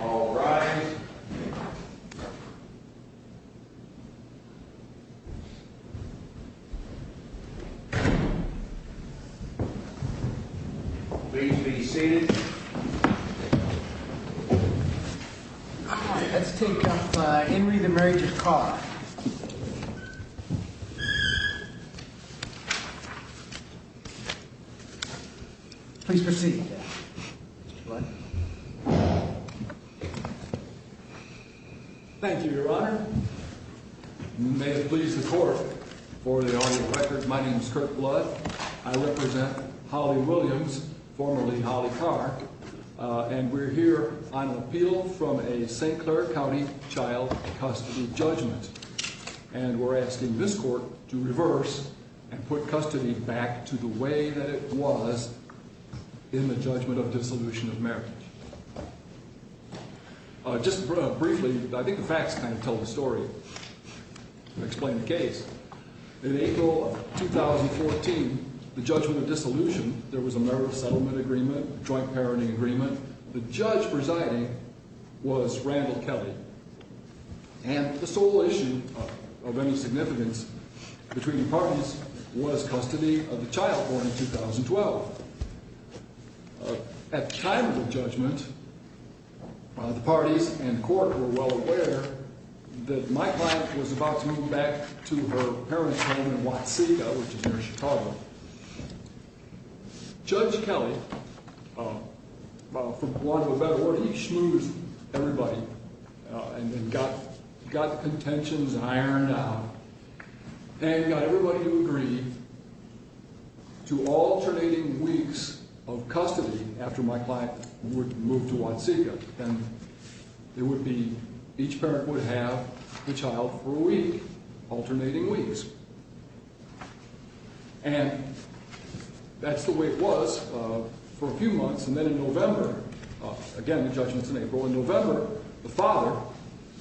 All rise. Please be seated. Let's take up Henry the Married to Carr. Please proceed. Thank you, Your Honor. May it please the court. For the audio record, my name is Kirk Blood. I represent Holly Williams, formerly Holly Carr. And we're here on appeal from a St. Clair County child custody judgment. And we're asking this court to reverse and put custody back to the way that it was in the judgment of dissolution of marriage. Just briefly, I think the facts kind of tell the story, explain the case. In April 2014, the judgment of dissolution, there was a marriage settlement agreement, joint parenting agreement. The judge presiding was Randall Kelly. And the sole issue of any significance between the parties was custody of the child born in 2012. At the time of the judgment, the parties and court were well aware that my client was about to move back to her parents' home in Watsika, which is near Chicago. Judge Kelly, for want of a better word, he schmoozed everybody and got contentions ironed out, and got everybody to agree to alternating weeks of custody after my client would move to Watsika. And it would be each parent would have the child for a week, alternating weeks. And that's the way it was for a few months. And then in November, again, the judgment's in April. In November, the father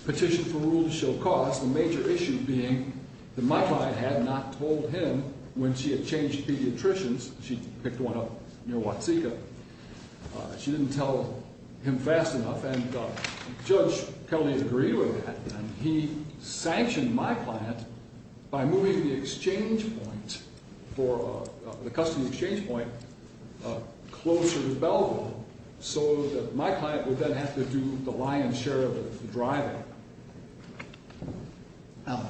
petitioned for rule to show cause, the major issue being that my client had not told him when she had changed pediatricians. She picked one up near Watsika. She didn't tell him fast enough. And Judge Kelly agreed with that. And he sanctioned my client by moving the exchange point for the custody exchange point closer to Belleville, so that my client would then have to do the lion's share of the driving.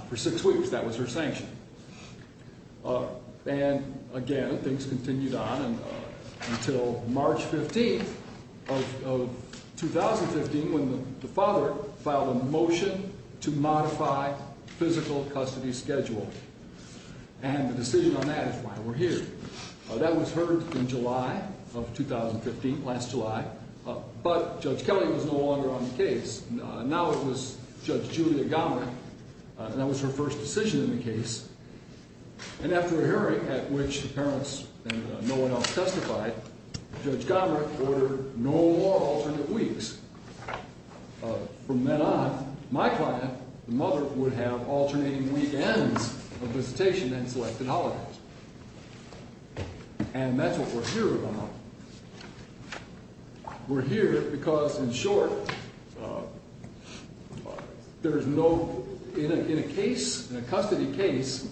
For six weeks, that was her sanction. And, again, things continued on until March 15th of 2015, when the father filed a motion to modify physical custody schedule. And the decision on that is why we're here. That was heard in July of 2015, last July. But Judge Kelly was no longer on the case. Now it was Judge Julia Gomert, and that was her first decision in the case. And after a hearing at which the parents and no one else testified, Judge Gomert ordered no more alternate weeks. From then on, my client, the mother, would have alternating weekends of visitation and selected holidays. And that's what we're here about. We're here because, in short, there is no—in a case, in a custody case,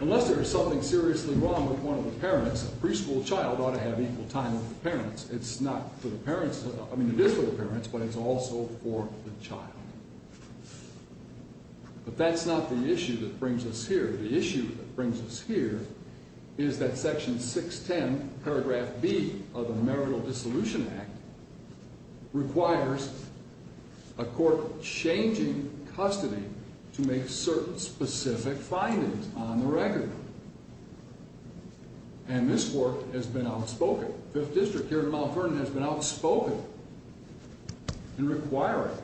unless there is something seriously wrong with one of the parents, a preschool child ought to have equal time with the parents. It's not for the parents—I mean, it is for the parents, but it's also for the child. But that's not the issue that brings us here. The issue that brings us here is that Section 610, paragraph B of the Marital Dissolution Act, requires a court changing custody to make certain specific findings on the record. And this work has been outspoken. Fifth District here in Mount Vernon has been outspoken in requiring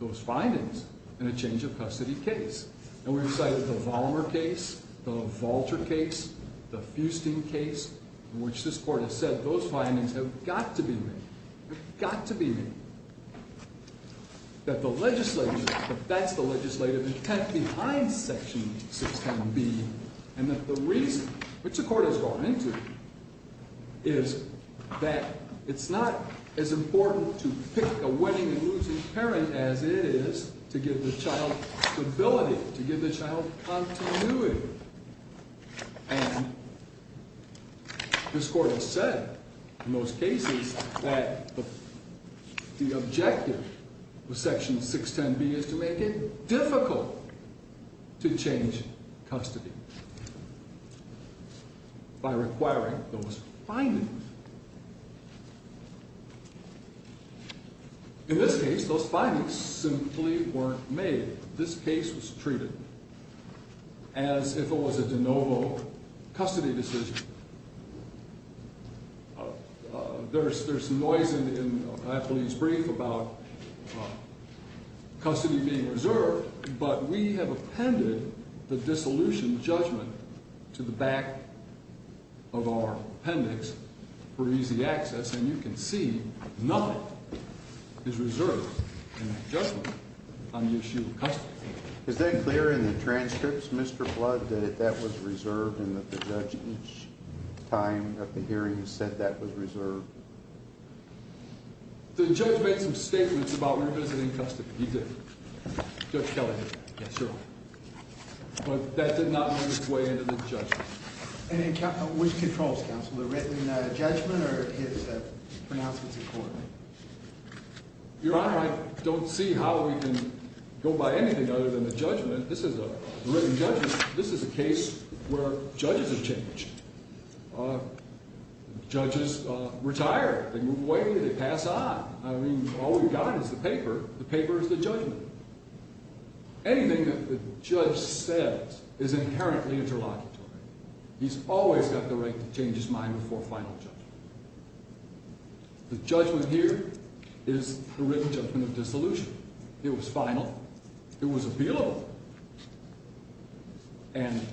those findings in a change-of-custody case. And we're excited with the Vollmer case, the Valter case, the Fusting case, in which this Court has said those findings have got to be made. They've got to be made. That the legislation—that that's the legislative intent behind Section 610B, and that the reason which the Court has gone into is that it's not as important to pick a winning and losing parent as it is to give the child stability, to give the child continuity. And this Court has said in those cases that the objective of Section 610B is to make it difficult to change custody by requiring those findings. In this case, those findings simply weren't made. This case was treated as if it was a de novo custody decision. There's some noise in Appellee's brief about custody being reserved, but we have appended the dissolution judgment to the back of our appendix for easy access, and you can see nothing is reserved in that judgment on the issue of custody. Is that clear in the transcripts, Mr. Blood, that that was reserved and that the judge, each time at the hearing, said that was reserved? The judge made some statements about revisiting custody. He did. Judge Kelly did. Yes, Your Honor. But that did not make its way into the judgment. And which controls, Counsel, the written judgment or his pronouncements in court? Your Honor, I don't see how we can go by anything other than the judgment. This is a written judgment. This is a case where judges have changed. Judges retire. They move away. They pass on. I mean, all we've got is the paper. The paper is the judgment. Anything that the judge says is inherently interlocutory. He's always got the right to change his mind before final judgment. The judgment here is the written judgment of dissolution. It was final. It was appealable. And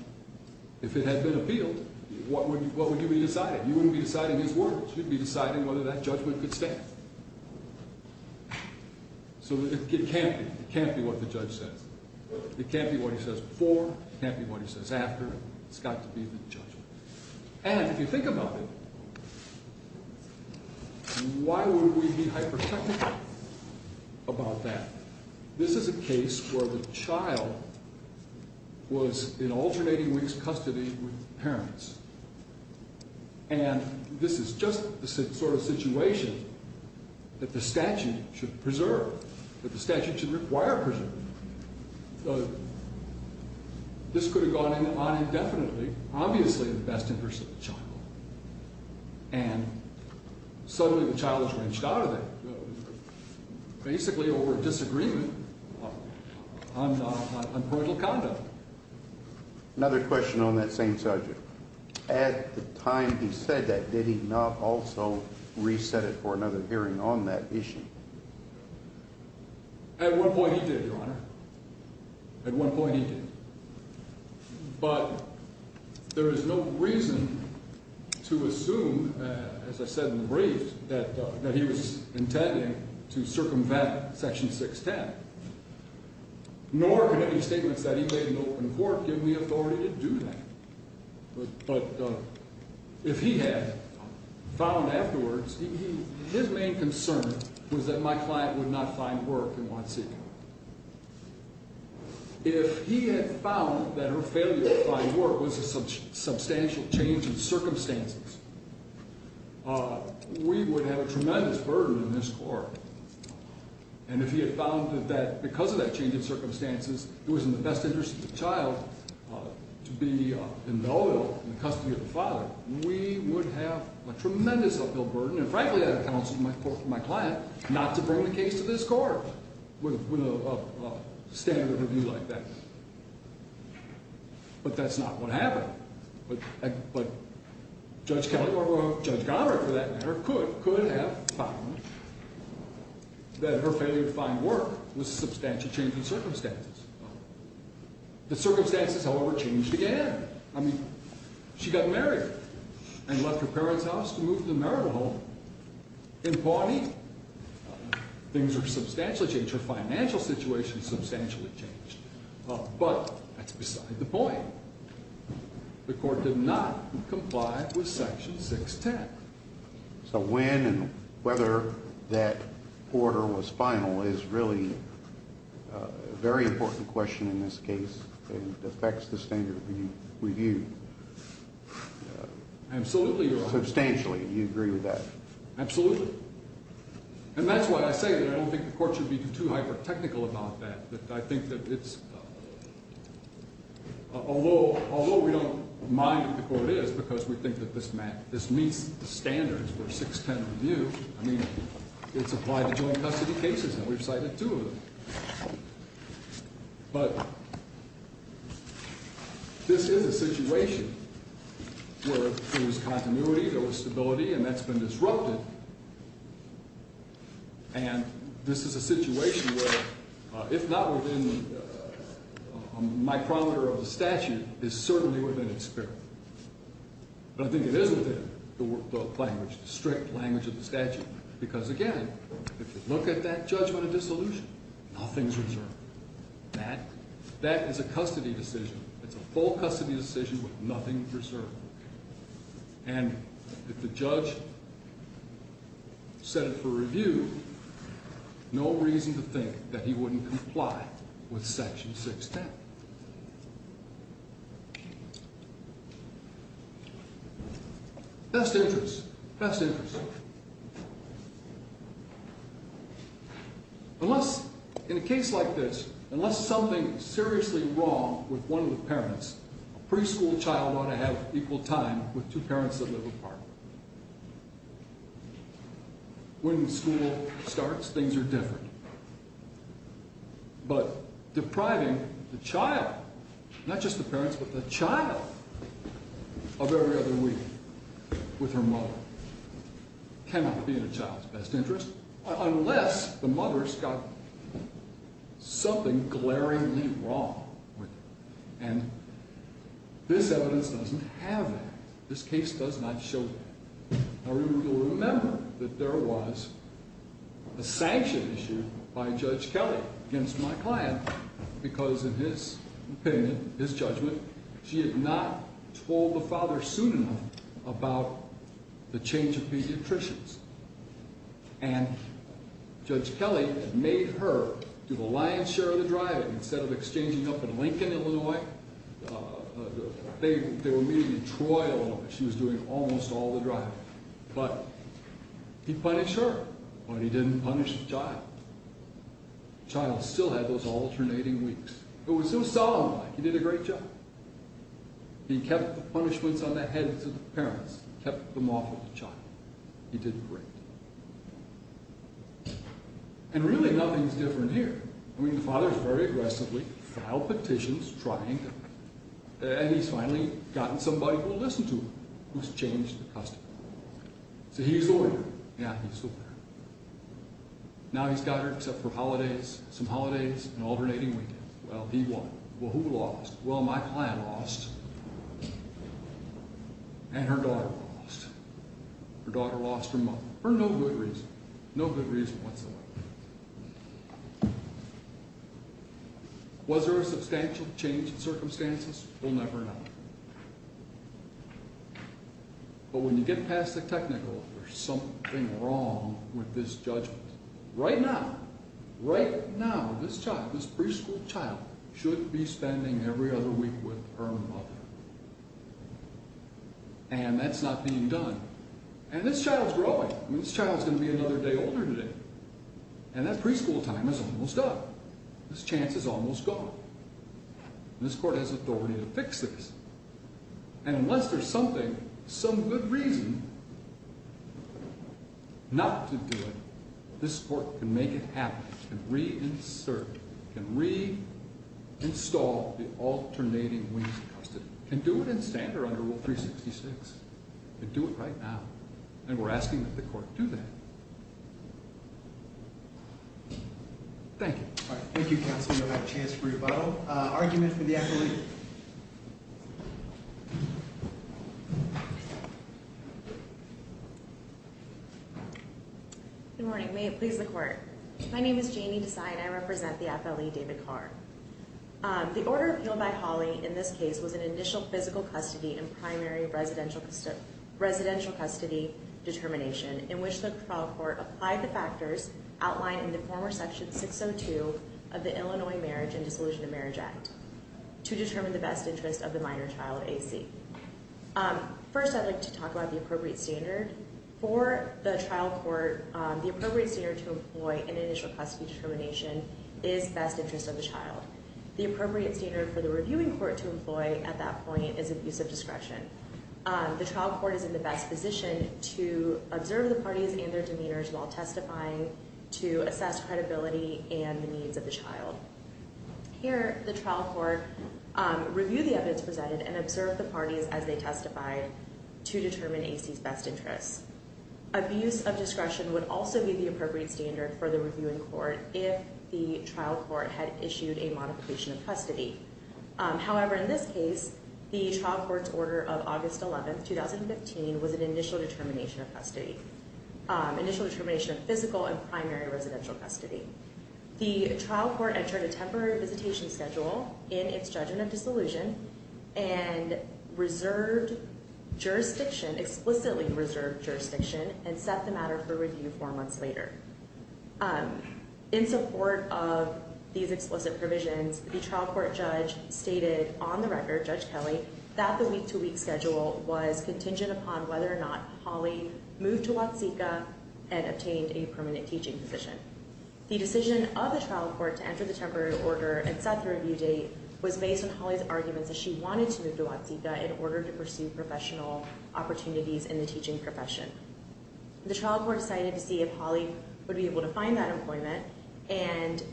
if it had been appealed, what would you be deciding? You wouldn't be deciding his words. You'd be deciding whether that judgment could stand. So it can't be. It can't be what the judge says. It can't be what he says before. It can't be what he says after. It's got to be the judgment. And if you think about it, why would we be hyper-technical about that? This is a case where the child was in alternating weeks' custody with parents. And this is just the sort of situation that the statute should preserve, that the statute should require preserving. So this could have gone on indefinitely, obviously in the best interest of the child. And suddenly the child was wrenched out of it, basically over disagreement on parental conduct. Another question on that same subject. At the time he said that, did he not also reset it for another hearing on that issue? At one point he did, Your Honor. At one point he did. But there is no reason to assume, as I said in the brief, that he was intending to circumvent Section 610. Nor could any statements that he made in open court give me authority to do that. But if he had found afterwards, his main concern was that my client would not find work in Juan Sica. If he had found that her failure to find work was a substantial change in circumstances, we would have a tremendous burden on this court. And if he had found that because of that change in circumstances it was in the best interest of the child to be invaluable in the custody of the father, we would have a tremendous uphill burden, and frankly I had counseled my client not to bring the case to this court with a standard of review like that. But that's not what happened. But Judge Conrad, for that matter, could have found that her failure to find work was a substantial change in circumstances. The circumstances, however, changed again. I mean, she got married and left her parents' house to move to the marital home. In Pawnee, things were substantially changed. Her financial situation substantially changed. But that's beside the point. The court did not comply with Section 610. So when and whether that order was final is really a very important question in this case. It affects the standard of review substantially. Do you agree with that? Absolutely. And that's why I say that I don't think the court should be too hyper-technical about that. I think that it's – although we don't mind what the court is because we think that this meets the standards for 610 review, I mean, it's applied to joint custody cases, and we've cited two of them. But this is a situation where there was continuity, there was stability, and that's been disrupted. And this is a situation where, if not within a micrometer of the statute, it's certainly within its spirit. But I think it isn't within the language, the strict language of the statute. Because, again, if you look at that judgment of dissolution, nothing's reserved. That is a custody decision. It's a full custody decision with nothing reserved. And if the judge set it for review, no reason to think that he wouldn't comply with Section 610. Best interest. Best interest. Unless – in a case like this, unless something is seriously wrong with one of the parents, a preschool child ought to have equal time with two parents that live apart. When the school starts, things are different. But depriving the child, not just the parents, but the child of every other week with her mother cannot be in a child's best interest unless the mother's got something glaringly wrong with her. And this evidence doesn't have that. This case does not show that. Now, remember that there was a sanction issue by Judge Kelly against my client because, in his opinion, his judgment, she had not told the father soon enough about the change of pediatricians. And Judge Kelly made her do the lion's share of the driving. Instead of exchanging up in Lincoln, Illinois, they were meeting in Troy, Illinois. She was doing almost all the driving. But he punished her, but he didn't punish the child. The child still had those alternating weeks. It was so solemn, like, he did a great job. He kept the punishments on the heads of the parents, kept them off of the child. He did great. And really, nothing's different here. I mean, the father's very aggressively filed petitions, trying, and he's finally gotten somebody to listen to him who's changed the custody. So he's the lawyer. Yeah, he's the lawyer. Now he's got her except for holidays, some holidays, and alternating weekends. Well, he won. Well, who lost? Well, my client lost. And her daughter lost. Her daughter lost her mother for no good reason, no good reason whatsoever. Was there a substantial change in circumstances? We'll never know. But when you get past the technical, there's something wrong with this judgment. Right now, right now, this child, this preschool child should be spending every other week with her mother. And that's not being done. And this child's growing. I mean, this child's going to be another day older today. And that preschool time is almost up. This chance is almost gone. And this court has authority to fix this. And unless there's something, some good reason not to do it, this court can make it happen, can reinsert, can reinstall the alternating weeks of custody, can do it in standard under Rule 366, can do it right now. And we're asking that the court do that. Thank you. All right. Thank you, Counselor. We don't have a chance for rebuttal. Argument for the FLE. Good morning. May it please the Court. My name is Janie Desai, and I represent the FLE David Carr. The order appealed by Hawley in this case was an initial physical custody and primary residential custody determination, in which the trial court applied the factors outlined in the former Section 602 of the Illinois Marriage and Dissolution of Marriage Act to determine the best interest of the minor child, AC. First, I'd like to talk about the appropriate standard. For the trial court, the appropriate standard to employ an initial custody determination is best interest of the child. The appropriate standard for the reviewing court to employ at that point is abuse of discretion. The trial court is in the best position to observe the parties and their demeanors while testifying to assess credibility and the needs of the child. Here, the trial court reviewed the evidence presented and observed the parties as they testified to determine AC's best interest. Abuse of discretion would also be the appropriate standard for the reviewing court if the trial court had issued a modification of custody. However, in this case, the trial court's order of August 11, 2015, was an initial determination of custody, initial determination of physical and primary residential custody. The trial court entered a temporary visitation schedule in its judgment of dissolution and reserved jurisdiction, explicitly reserved jurisdiction, and set the matter for review four months later. In support of these explicit provisions, the trial court judge stated on the record, Judge Kelly, that the week-to-week schedule was contingent upon whether or not Holly moved to Watsika and obtained a permanent teaching position. The decision of the trial court to enter the temporary order and set the review date was based on Holly's arguments that she wanted to move to Watsika in order to pursue professional opportunities in the teaching profession. The trial court decided to see if Holly would be able to find that employment and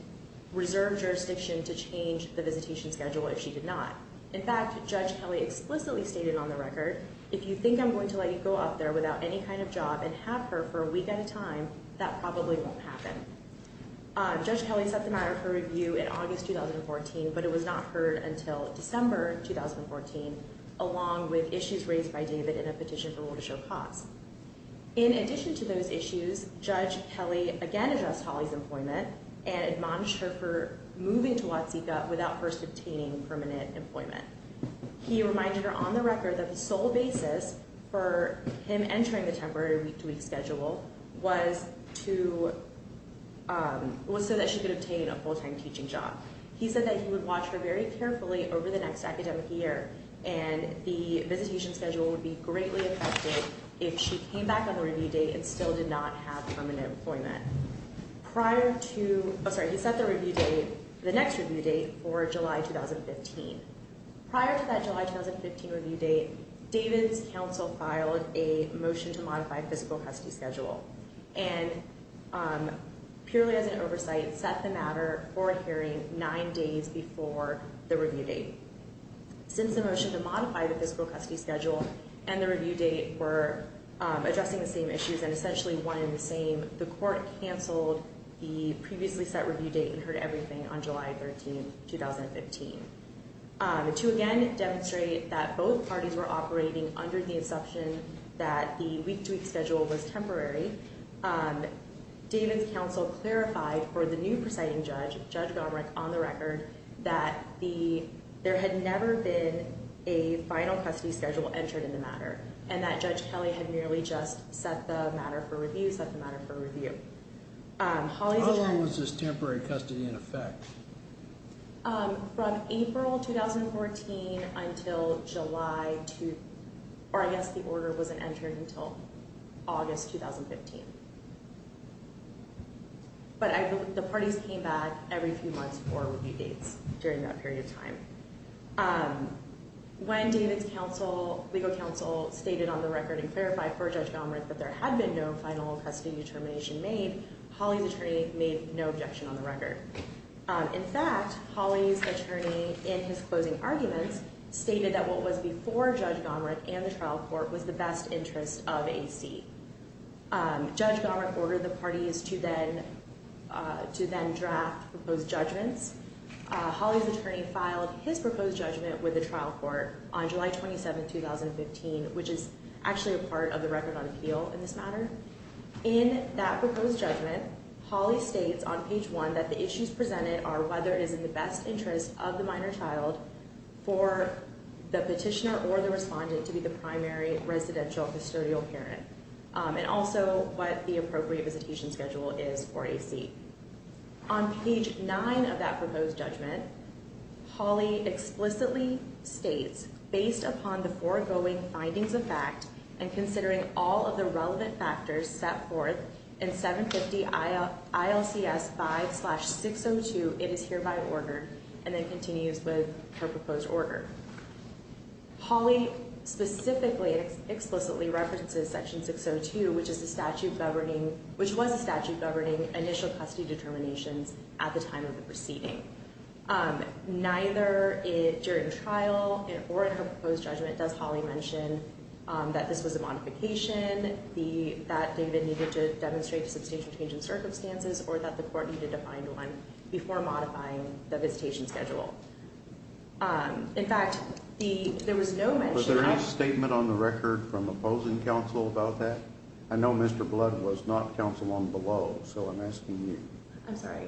reserve jurisdiction to change the visitation schedule if she did not. In fact, Judge Kelly explicitly stated on the record, if you think I'm going to let you go up there without any kind of job and have her for a week at a time, that probably won't happen. Judge Kelly set the matter for review in August 2014, but it was not heard until December 2014, along with issues raised by David in a petition for more to show cause. In addition to those issues, Judge Kelly again addressed Holly's employment and admonished her for moving to Watsika without first obtaining permanent employment. He reminded her on the record that the sole basis for him entering the temporary week-to-week schedule was so that she could obtain a full-time teaching job. He said that he would watch her very carefully over the next academic year and the visitation schedule would be greatly affected if she came back on the review date and still did not have permanent employment. He set the next review date for July 2015. Prior to that July 2015 review date, David's counsel filed a motion to modify physical custody schedule and purely as an oversight, set the matter for a hearing nine days before the review date. Since the motion to modify the physical custody schedule and the review date were addressing the same issues and essentially one and the same, the court canceled the previously set review date and heard everything on July 13, 2015. To again demonstrate that both parties were operating under the assumption that the week-to-week schedule was temporary, David's counsel clarified for the new presiding judge, Judge Gomerick, on the record that there had never been a final custody schedule entered in the matter and that Judge Kelly had merely just set the matter for review, set the matter for review. How long was this temporary custody in effect? From April 2014 until July, or I guess the order wasn't entered until August 2015. But the parties came back every few months for review dates during that period of time. When David's legal counsel stated on the record and clarified for Judge Gomerick that there had been no final custody determination made, Holly's attorney made no objection on the record. In fact, Holly's attorney, in his closing arguments, stated that what was before Judge Gomerick and the trial court was the best interest of AC. Judge Gomerick ordered the parties to then draft proposed judgments. Holly's attorney filed his proposed judgment with the trial court on July 27, 2015, which is actually a part of the record on appeal in this matter. In that proposed judgment, Holly states on page 1 that the issues presented are whether it is in the best interest of the minor child for the petitioner or the respondent to be the primary residential custodial parent and also what the appropriate visitation schedule is for AC. On page 9 of that proposed judgment, Holly explicitly states, based upon the foregoing findings of fact and considering all of the relevant factors set forth in 750 ILCS 5-602, it is hereby ordered, and then continues with her proposed order. Holly specifically and explicitly references Section 602, which was a statute governing initial custody determinations at the time of the proceeding. Neither during trial or in her proposed judgment does Holly mention that this was a modification, that David needed to demonstrate a substantial change in circumstances, or that the court needed to find one before modifying the visitation schedule. In fact, there was no mention of— Was there any statement on the record from opposing counsel about that? I know Mr. Blood was not counsel on below, so I'm asking you. I'm sorry.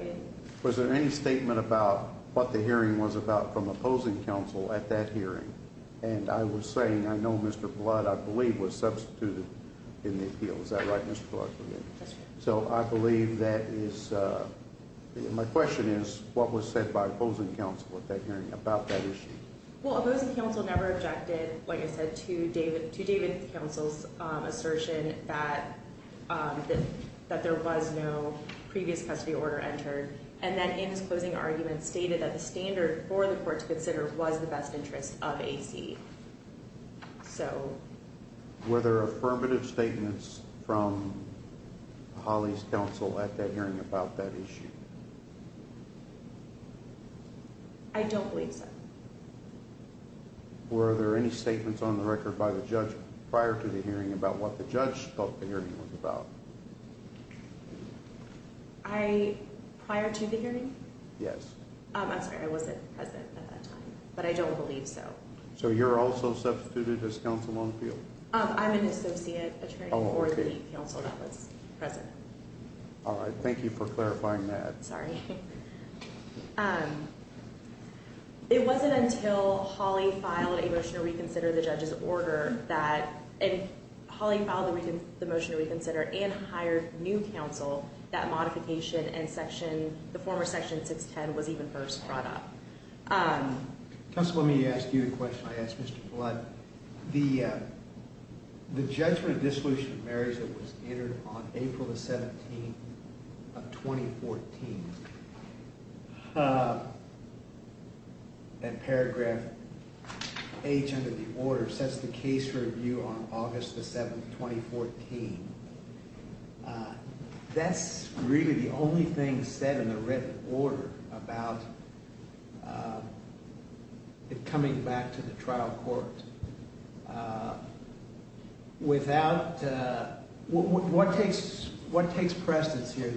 Was there any statement about what the hearing was about from opposing counsel at that hearing? And I was saying I know Mr. Blood, I believe, was substituted in the appeal. Is that right, Mr. Clark? That's right. So I believe that is—my question is, what was said by opposing counsel at that hearing about that issue? Well, opposing counsel never objected, like I said, to David's counsel's assertion that there was no previous custody order entered, and then in his closing argument stated that the standard for the court to consider was the best interest of AC. So— Were there affirmative statements from Holly's counsel at that hearing about that issue? I don't believe so. Were there any statements on the record by the judge prior to the hearing about what the judge felt the hearing was about? I—prior to the hearing? Yes. I'm sorry, I wasn't present at that time, but I don't believe so. So you're also substituted as counsel on appeal? I'm an associate attorney for the counsel that was present. All right, thank you for clarifying that. Sorry. Okay. It wasn't until Holly filed a motion to reconsider the judge's order that— and Holly filed the motion to reconsider and hired new counsel, that modification and section—the former section 610 was even first brought up. Counsel, let me ask you the question I asked Mr. Blood. The judgment of dissolution of marriage that was entered on April the 17th of 2014, that paragraph H under the order, sets the case for review on August the 7th, 2014. That's really the only thing said in the written order about it coming back to the trial court. Without—what takes precedence here?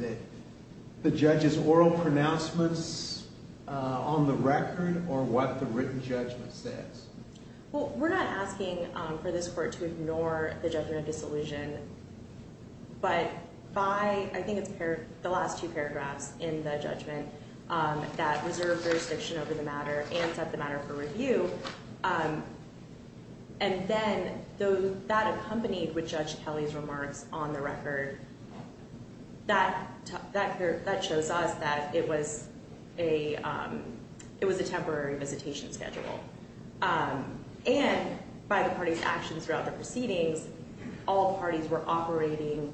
The judge's oral pronouncements on the record or what the written judgment says? Well, we're not asking for this court to ignore the judgment of dissolution, but by—I think it's the last two paragraphs in the judgment that reserve jurisdiction over the matter and set the matter for review. And then that accompanied with Judge Kelly's remarks on the record. That shows us that it was a temporary visitation schedule. And by the party's actions throughout the proceedings, all parties were operating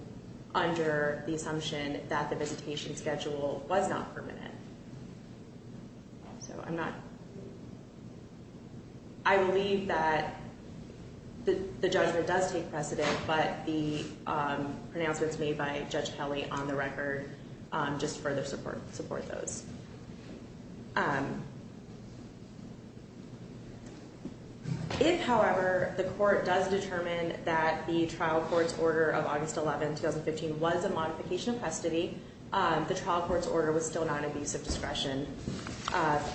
under the assumption that the visitation schedule was not permanent. So I'm not—I believe that the judgment does take precedent, but the pronouncements made by Judge Kelly on the record just further support those. If, however, the court does determine that the trial court's order of August 11, 2015 was a modification of custody, the trial court's order was still non-abusive discretion.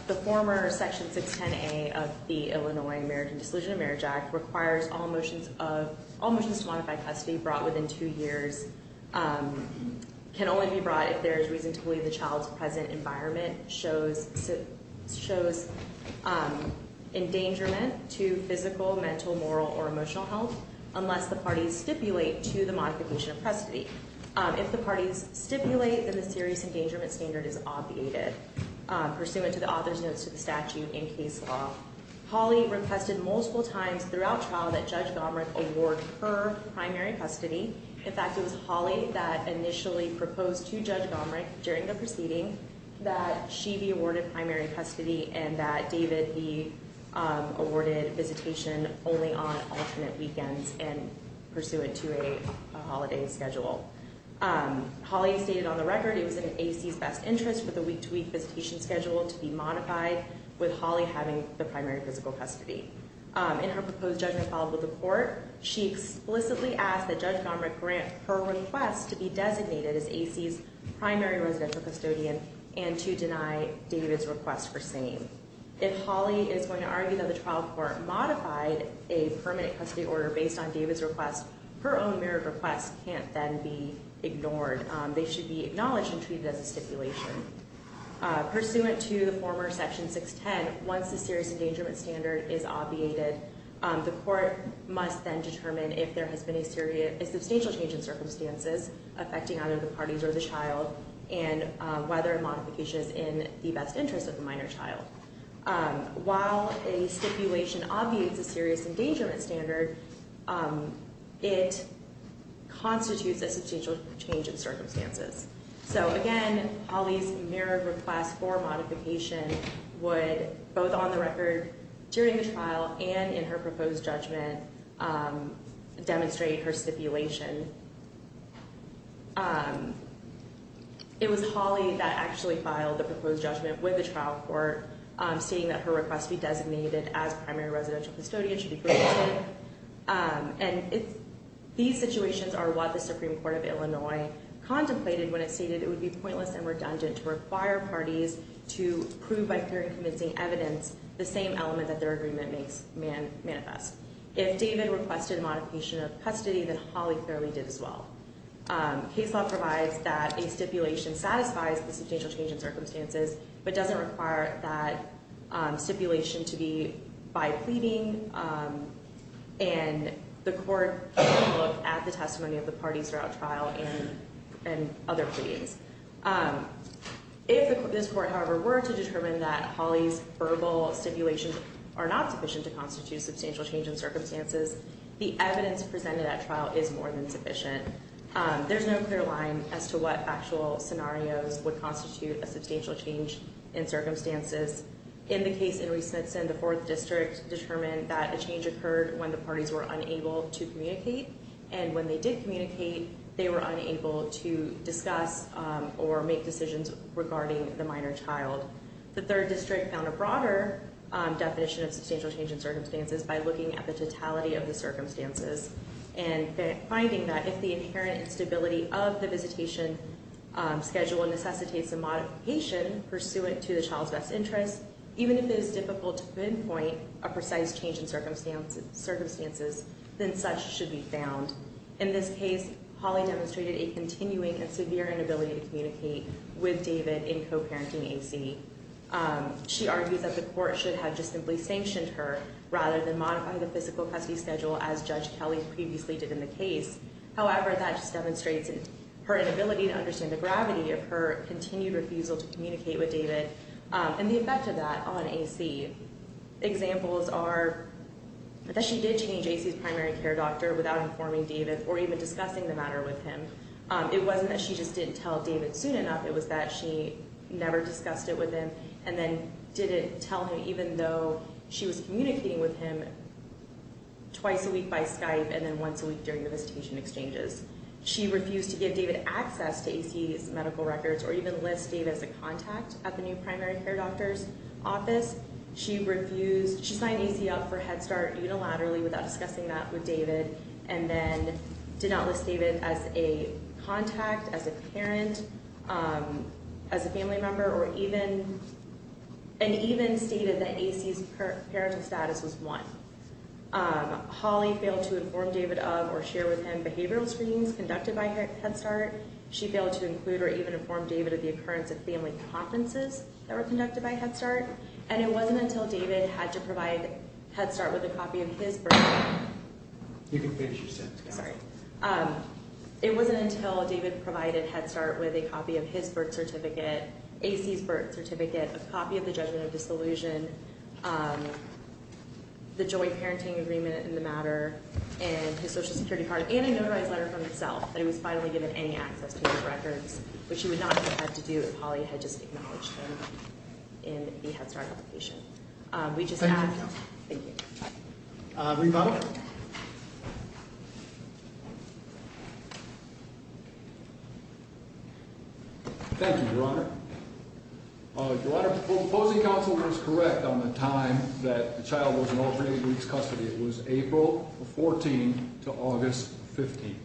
The former Section 610A of the Illinois American Dissolution of Marriage Act requires all motions of—all motions to modify custody brought within two years can only be brought if there is reason to believe the child's present environment shows endangerment to physical, mental, moral, or emotional health unless the parties stipulate to the modification of custody. If the parties stipulate, then the serious endangerment standard is obviated, pursuant to the author's notes to the statute in case law. Holly requested multiple times throughout trial that Judge Gomerich award her primary custody. In fact, it was Holly that initially proposed to Judge Gomerich during the proceeding that she be awarded primary custody and that David be awarded visitation only on alternate weekends and pursuant to a holiday schedule. Holly stated on the record it was in the AC's best interest for the week-to-week visitation schedule to be modified with Holly having the primary physical custody. In her proposed judgment filed with the court, she explicitly asked that Judge Gomerich grant her request to be designated as AC's primary residential custodian and to deny David's request for same. If Holly is going to argue that the trial court modified a permanent custody order based on David's request, her own marriage request can't then be ignored. They should be acknowledged and treated as a stipulation. Pursuant to the former section 610, once the serious endangerment standard is obviated, the court must then determine if there has been a substantial change in circumstances affecting either the parties or the child and whether a modification is in the best interest of the minor child. While a stipulation obviates a serious endangerment standard, it constitutes a substantial change in circumstances. So again, Holly's marriage request for modification would, both on the record during the trial and in her proposed judgment, demonstrate her stipulation. It was Holly that actually filed the proposed judgment with the trial court, stating that her request to be designated as primary residential custodian should be granted. And these situations are what the Supreme Court of Illinois contemplated when it stated it would be pointless and redundant to require parties to prove by clear and convincing evidence the same element that their agreement makes manifest. If David requested a modification of custody, then Holly clearly did as well. Case law provides that a stipulation satisfies the substantial change in circumstances but doesn't require that stipulation to be by pleading, and the court can look at the testimony of the parties throughout trial and other pleadings. If this court, however, were to determine that Holly's verbal stipulations are not sufficient to constitute substantial change in circumstances, the evidence presented at trial is more than sufficient. There's no clear line as to what actual scenarios would constitute a substantial change in circumstances. In the case in Reese-Smithson, the Fourth District determined that a change occurred when the parties were unable to communicate, and when they did communicate, they were unable to discuss or make decisions regarding the minor child. The Third District found a broader definition of substantial change in circumstances by looking at the totality of the circumstances and finding that if the inherent instability of the visitation schedule necessitates a modification pursuant to the child's best interest, even if it is difficult to pinpoint a precise change in circumstances, then such should be found. In this case, Holly demonstrated a continuing and severe inability to communicate with David in co-parenting AC. She argued that the court should have just simply sanctioned her rather than modify the physical custody schedule as Judge Kelly previously did in the case. However, that just demonstrates her inability to understand the gravity of her continued refusal to communicate with David and the effect of that on AC. Examples are that she did change AC's primary care doctor without informing David or even discussing the matter with him. It wasn't that she just didn't tell David soon enough, it was that she never discussed it with him and then didn't tell him even though she was communicating with him twice a week by Skype and then once a week during the visitation exchanges. She refused to give David access to AC's medical records or even list David as a contact at the new primary care doctor's office. She signed AC up for Head Start unilaterally without discussing that with David and then did not list David as a contact, as a parent, as a family member and even stated that AC's parental status was one. Holly failed to inform David of or share with him behavioral screenings conducted by Head Start. She failed to include or even inform David of the occurrence of family conferences that were conducted by Head Start. And it wasn't until David had to provide Head Start with a copy of his birth certificate. You can finish your sentence. Sorry. It wasn't until David provided Head Start with a copy of his birth certificate, AC's birth certificate, a copy of the judgment of disillusion, the joint parenting agreement in the matter and his social security card and a notarized letter from himself that he was finally given any access to his records, which he would not have had to do if Holly had just acknowledged him in the Head Start application. We just have... Thank you. Rebuttal. Thank you, Your Honor. Your Honor, the opposing counsel was correct on the time that the child was in alternating weeks custody. It was April 14 to August 15,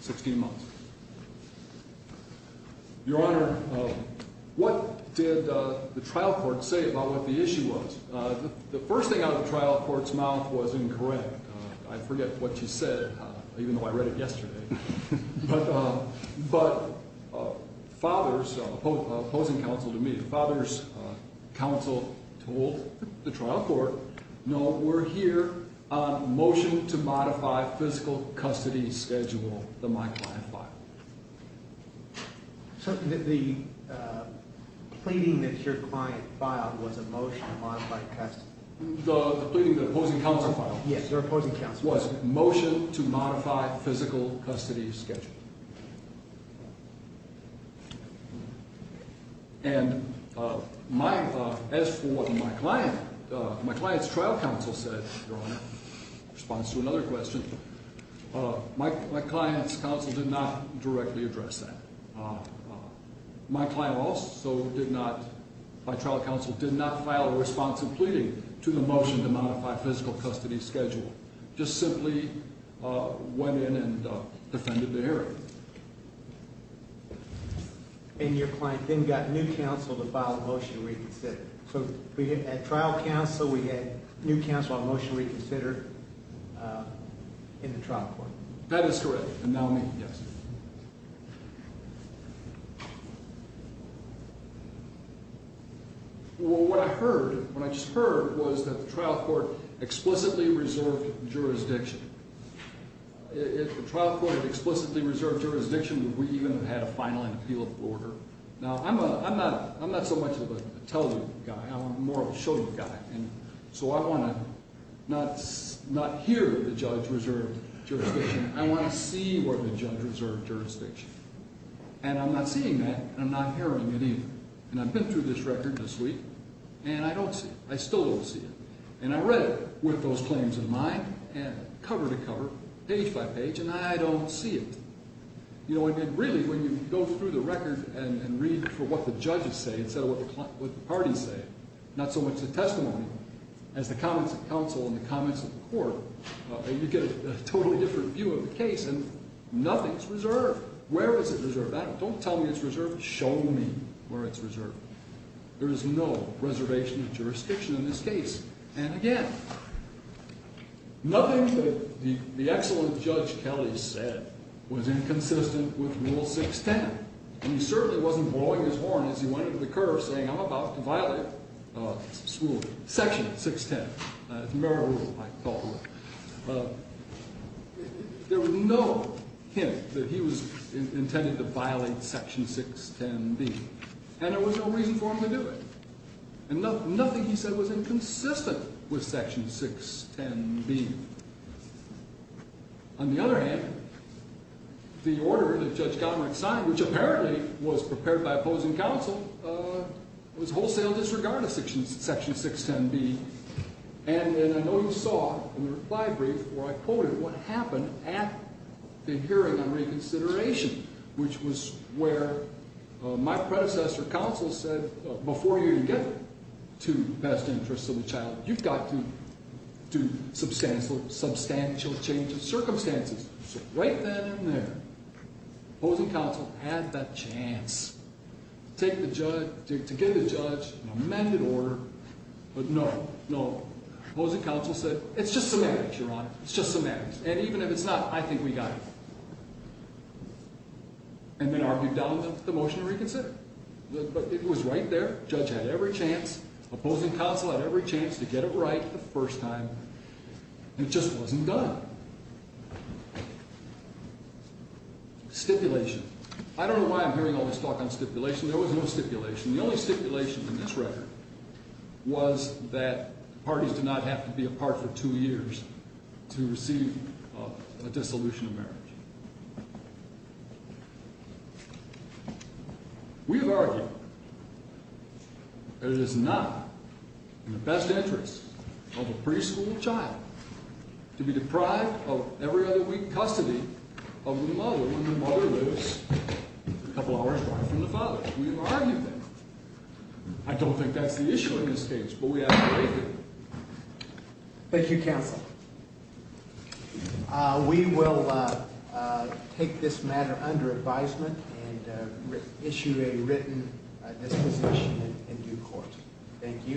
16 months. Your Honor, what did the trial court say about what the issue was? The first thing out of the trial court's mouth was incorrect. I forget what she said, even though I read it yesterday. But father's, opposing counsel to me, the father's counsel told the trial court, no, we're here on a motion to modify physical custody schedule that my client filed. So the pleading that your client filed was a motion to modify custody schedule? The pleading that opposing counsel filed? Yes, your opposing counsel. Was a motion to modify physical custody schedule. And as for my client, my client's trial counsel said, Your Honor, in response to another question, my client's counsel did not directly address that. My client also did not, my trial counsel did not file a responsive pleading to the motion to modify physical custody schedule. Just simply went in and defended the error. And your client then got new counsel to file a motion to reconsider. So we had trial counsel, we had new counsel on a motion to reconsider in the trial court. That is correct, and now me, yes. Well, what I heard, what I just heard was that the trial court explicitly reserved jurisdiction. If the trial court had explicitly reserved jurisdiction, would we even have had a final and appealable order? Now, I'm not so much of a tell you guy, I'm more of a show you guy. So I want to not hear the judge reserve jurisdiction, I want to see where the judge reserved jurisdiction. And I'm not seeing that, and I'm not hearing it either. And I've been through this record this week, and I don't see it. I still don't see it. And I read it with those claims in mind, and cover to cover, page by page, and I don't see it. Really, when you go through the record and read for what the judges say instead of what the parties say, not so much the testimony as the comments of counsel and the comments of the court, you get a totally different view of the case, and nothing's reserved. Where is it reserved? Don't tell me it's reserved. Show me where it's reserved. There is no reservation of jurisdiction in this case. And again, nothing that the excellent Judge Kelly said was inconsistent with Rule 610, and he certainly wasn't blowing his horn as he went into the curve saying I'm about to violate Section 610. It's a mirror rule, I call it. There was no hint that he was intended to violate Section 610B, and there was no reason for him to do it. And nothing he said was inconsistent with Section 610B. On the other hand, the order that Judge Gomerich signed, which apparently was prepared by opposing counsel, was wholesale disregard of Section 610B. And I know you saw in the reply brief where I quoted what happened at the hearing on reconsideration, which was where my predecessor counsel said before you get to best interests of the child, you've got to do substantial changes, circumstances. So right then and there, opposing counsel had that chance to get the judge an amended order, but no, no, opposing counsel said it's just semantics, Your Honor, it's just semantics. And even if it's not, I think we got it. And then argued down the motion to reconsider. But it was right there. Judge had every chance. Opposing counsel had every chance to get it right the first time. It just wasn't done. Stipulation. I don't know why I'm hearing all this talk on stipulation. There was no stipulation. The only stipulation in this record was that parties did not have to be apart for two years to receive a dissolution of marriage. We have argued that it is not in the best interest of a preschool child to be deprived of every other week custody of the mother when the mother lives a couple hours away from the father. We argue that. I don't think that's the issue in this case, but we have to take it. Thank you, counsel. We will take this matter under advisement and issue a written disposition in due court. Thank you.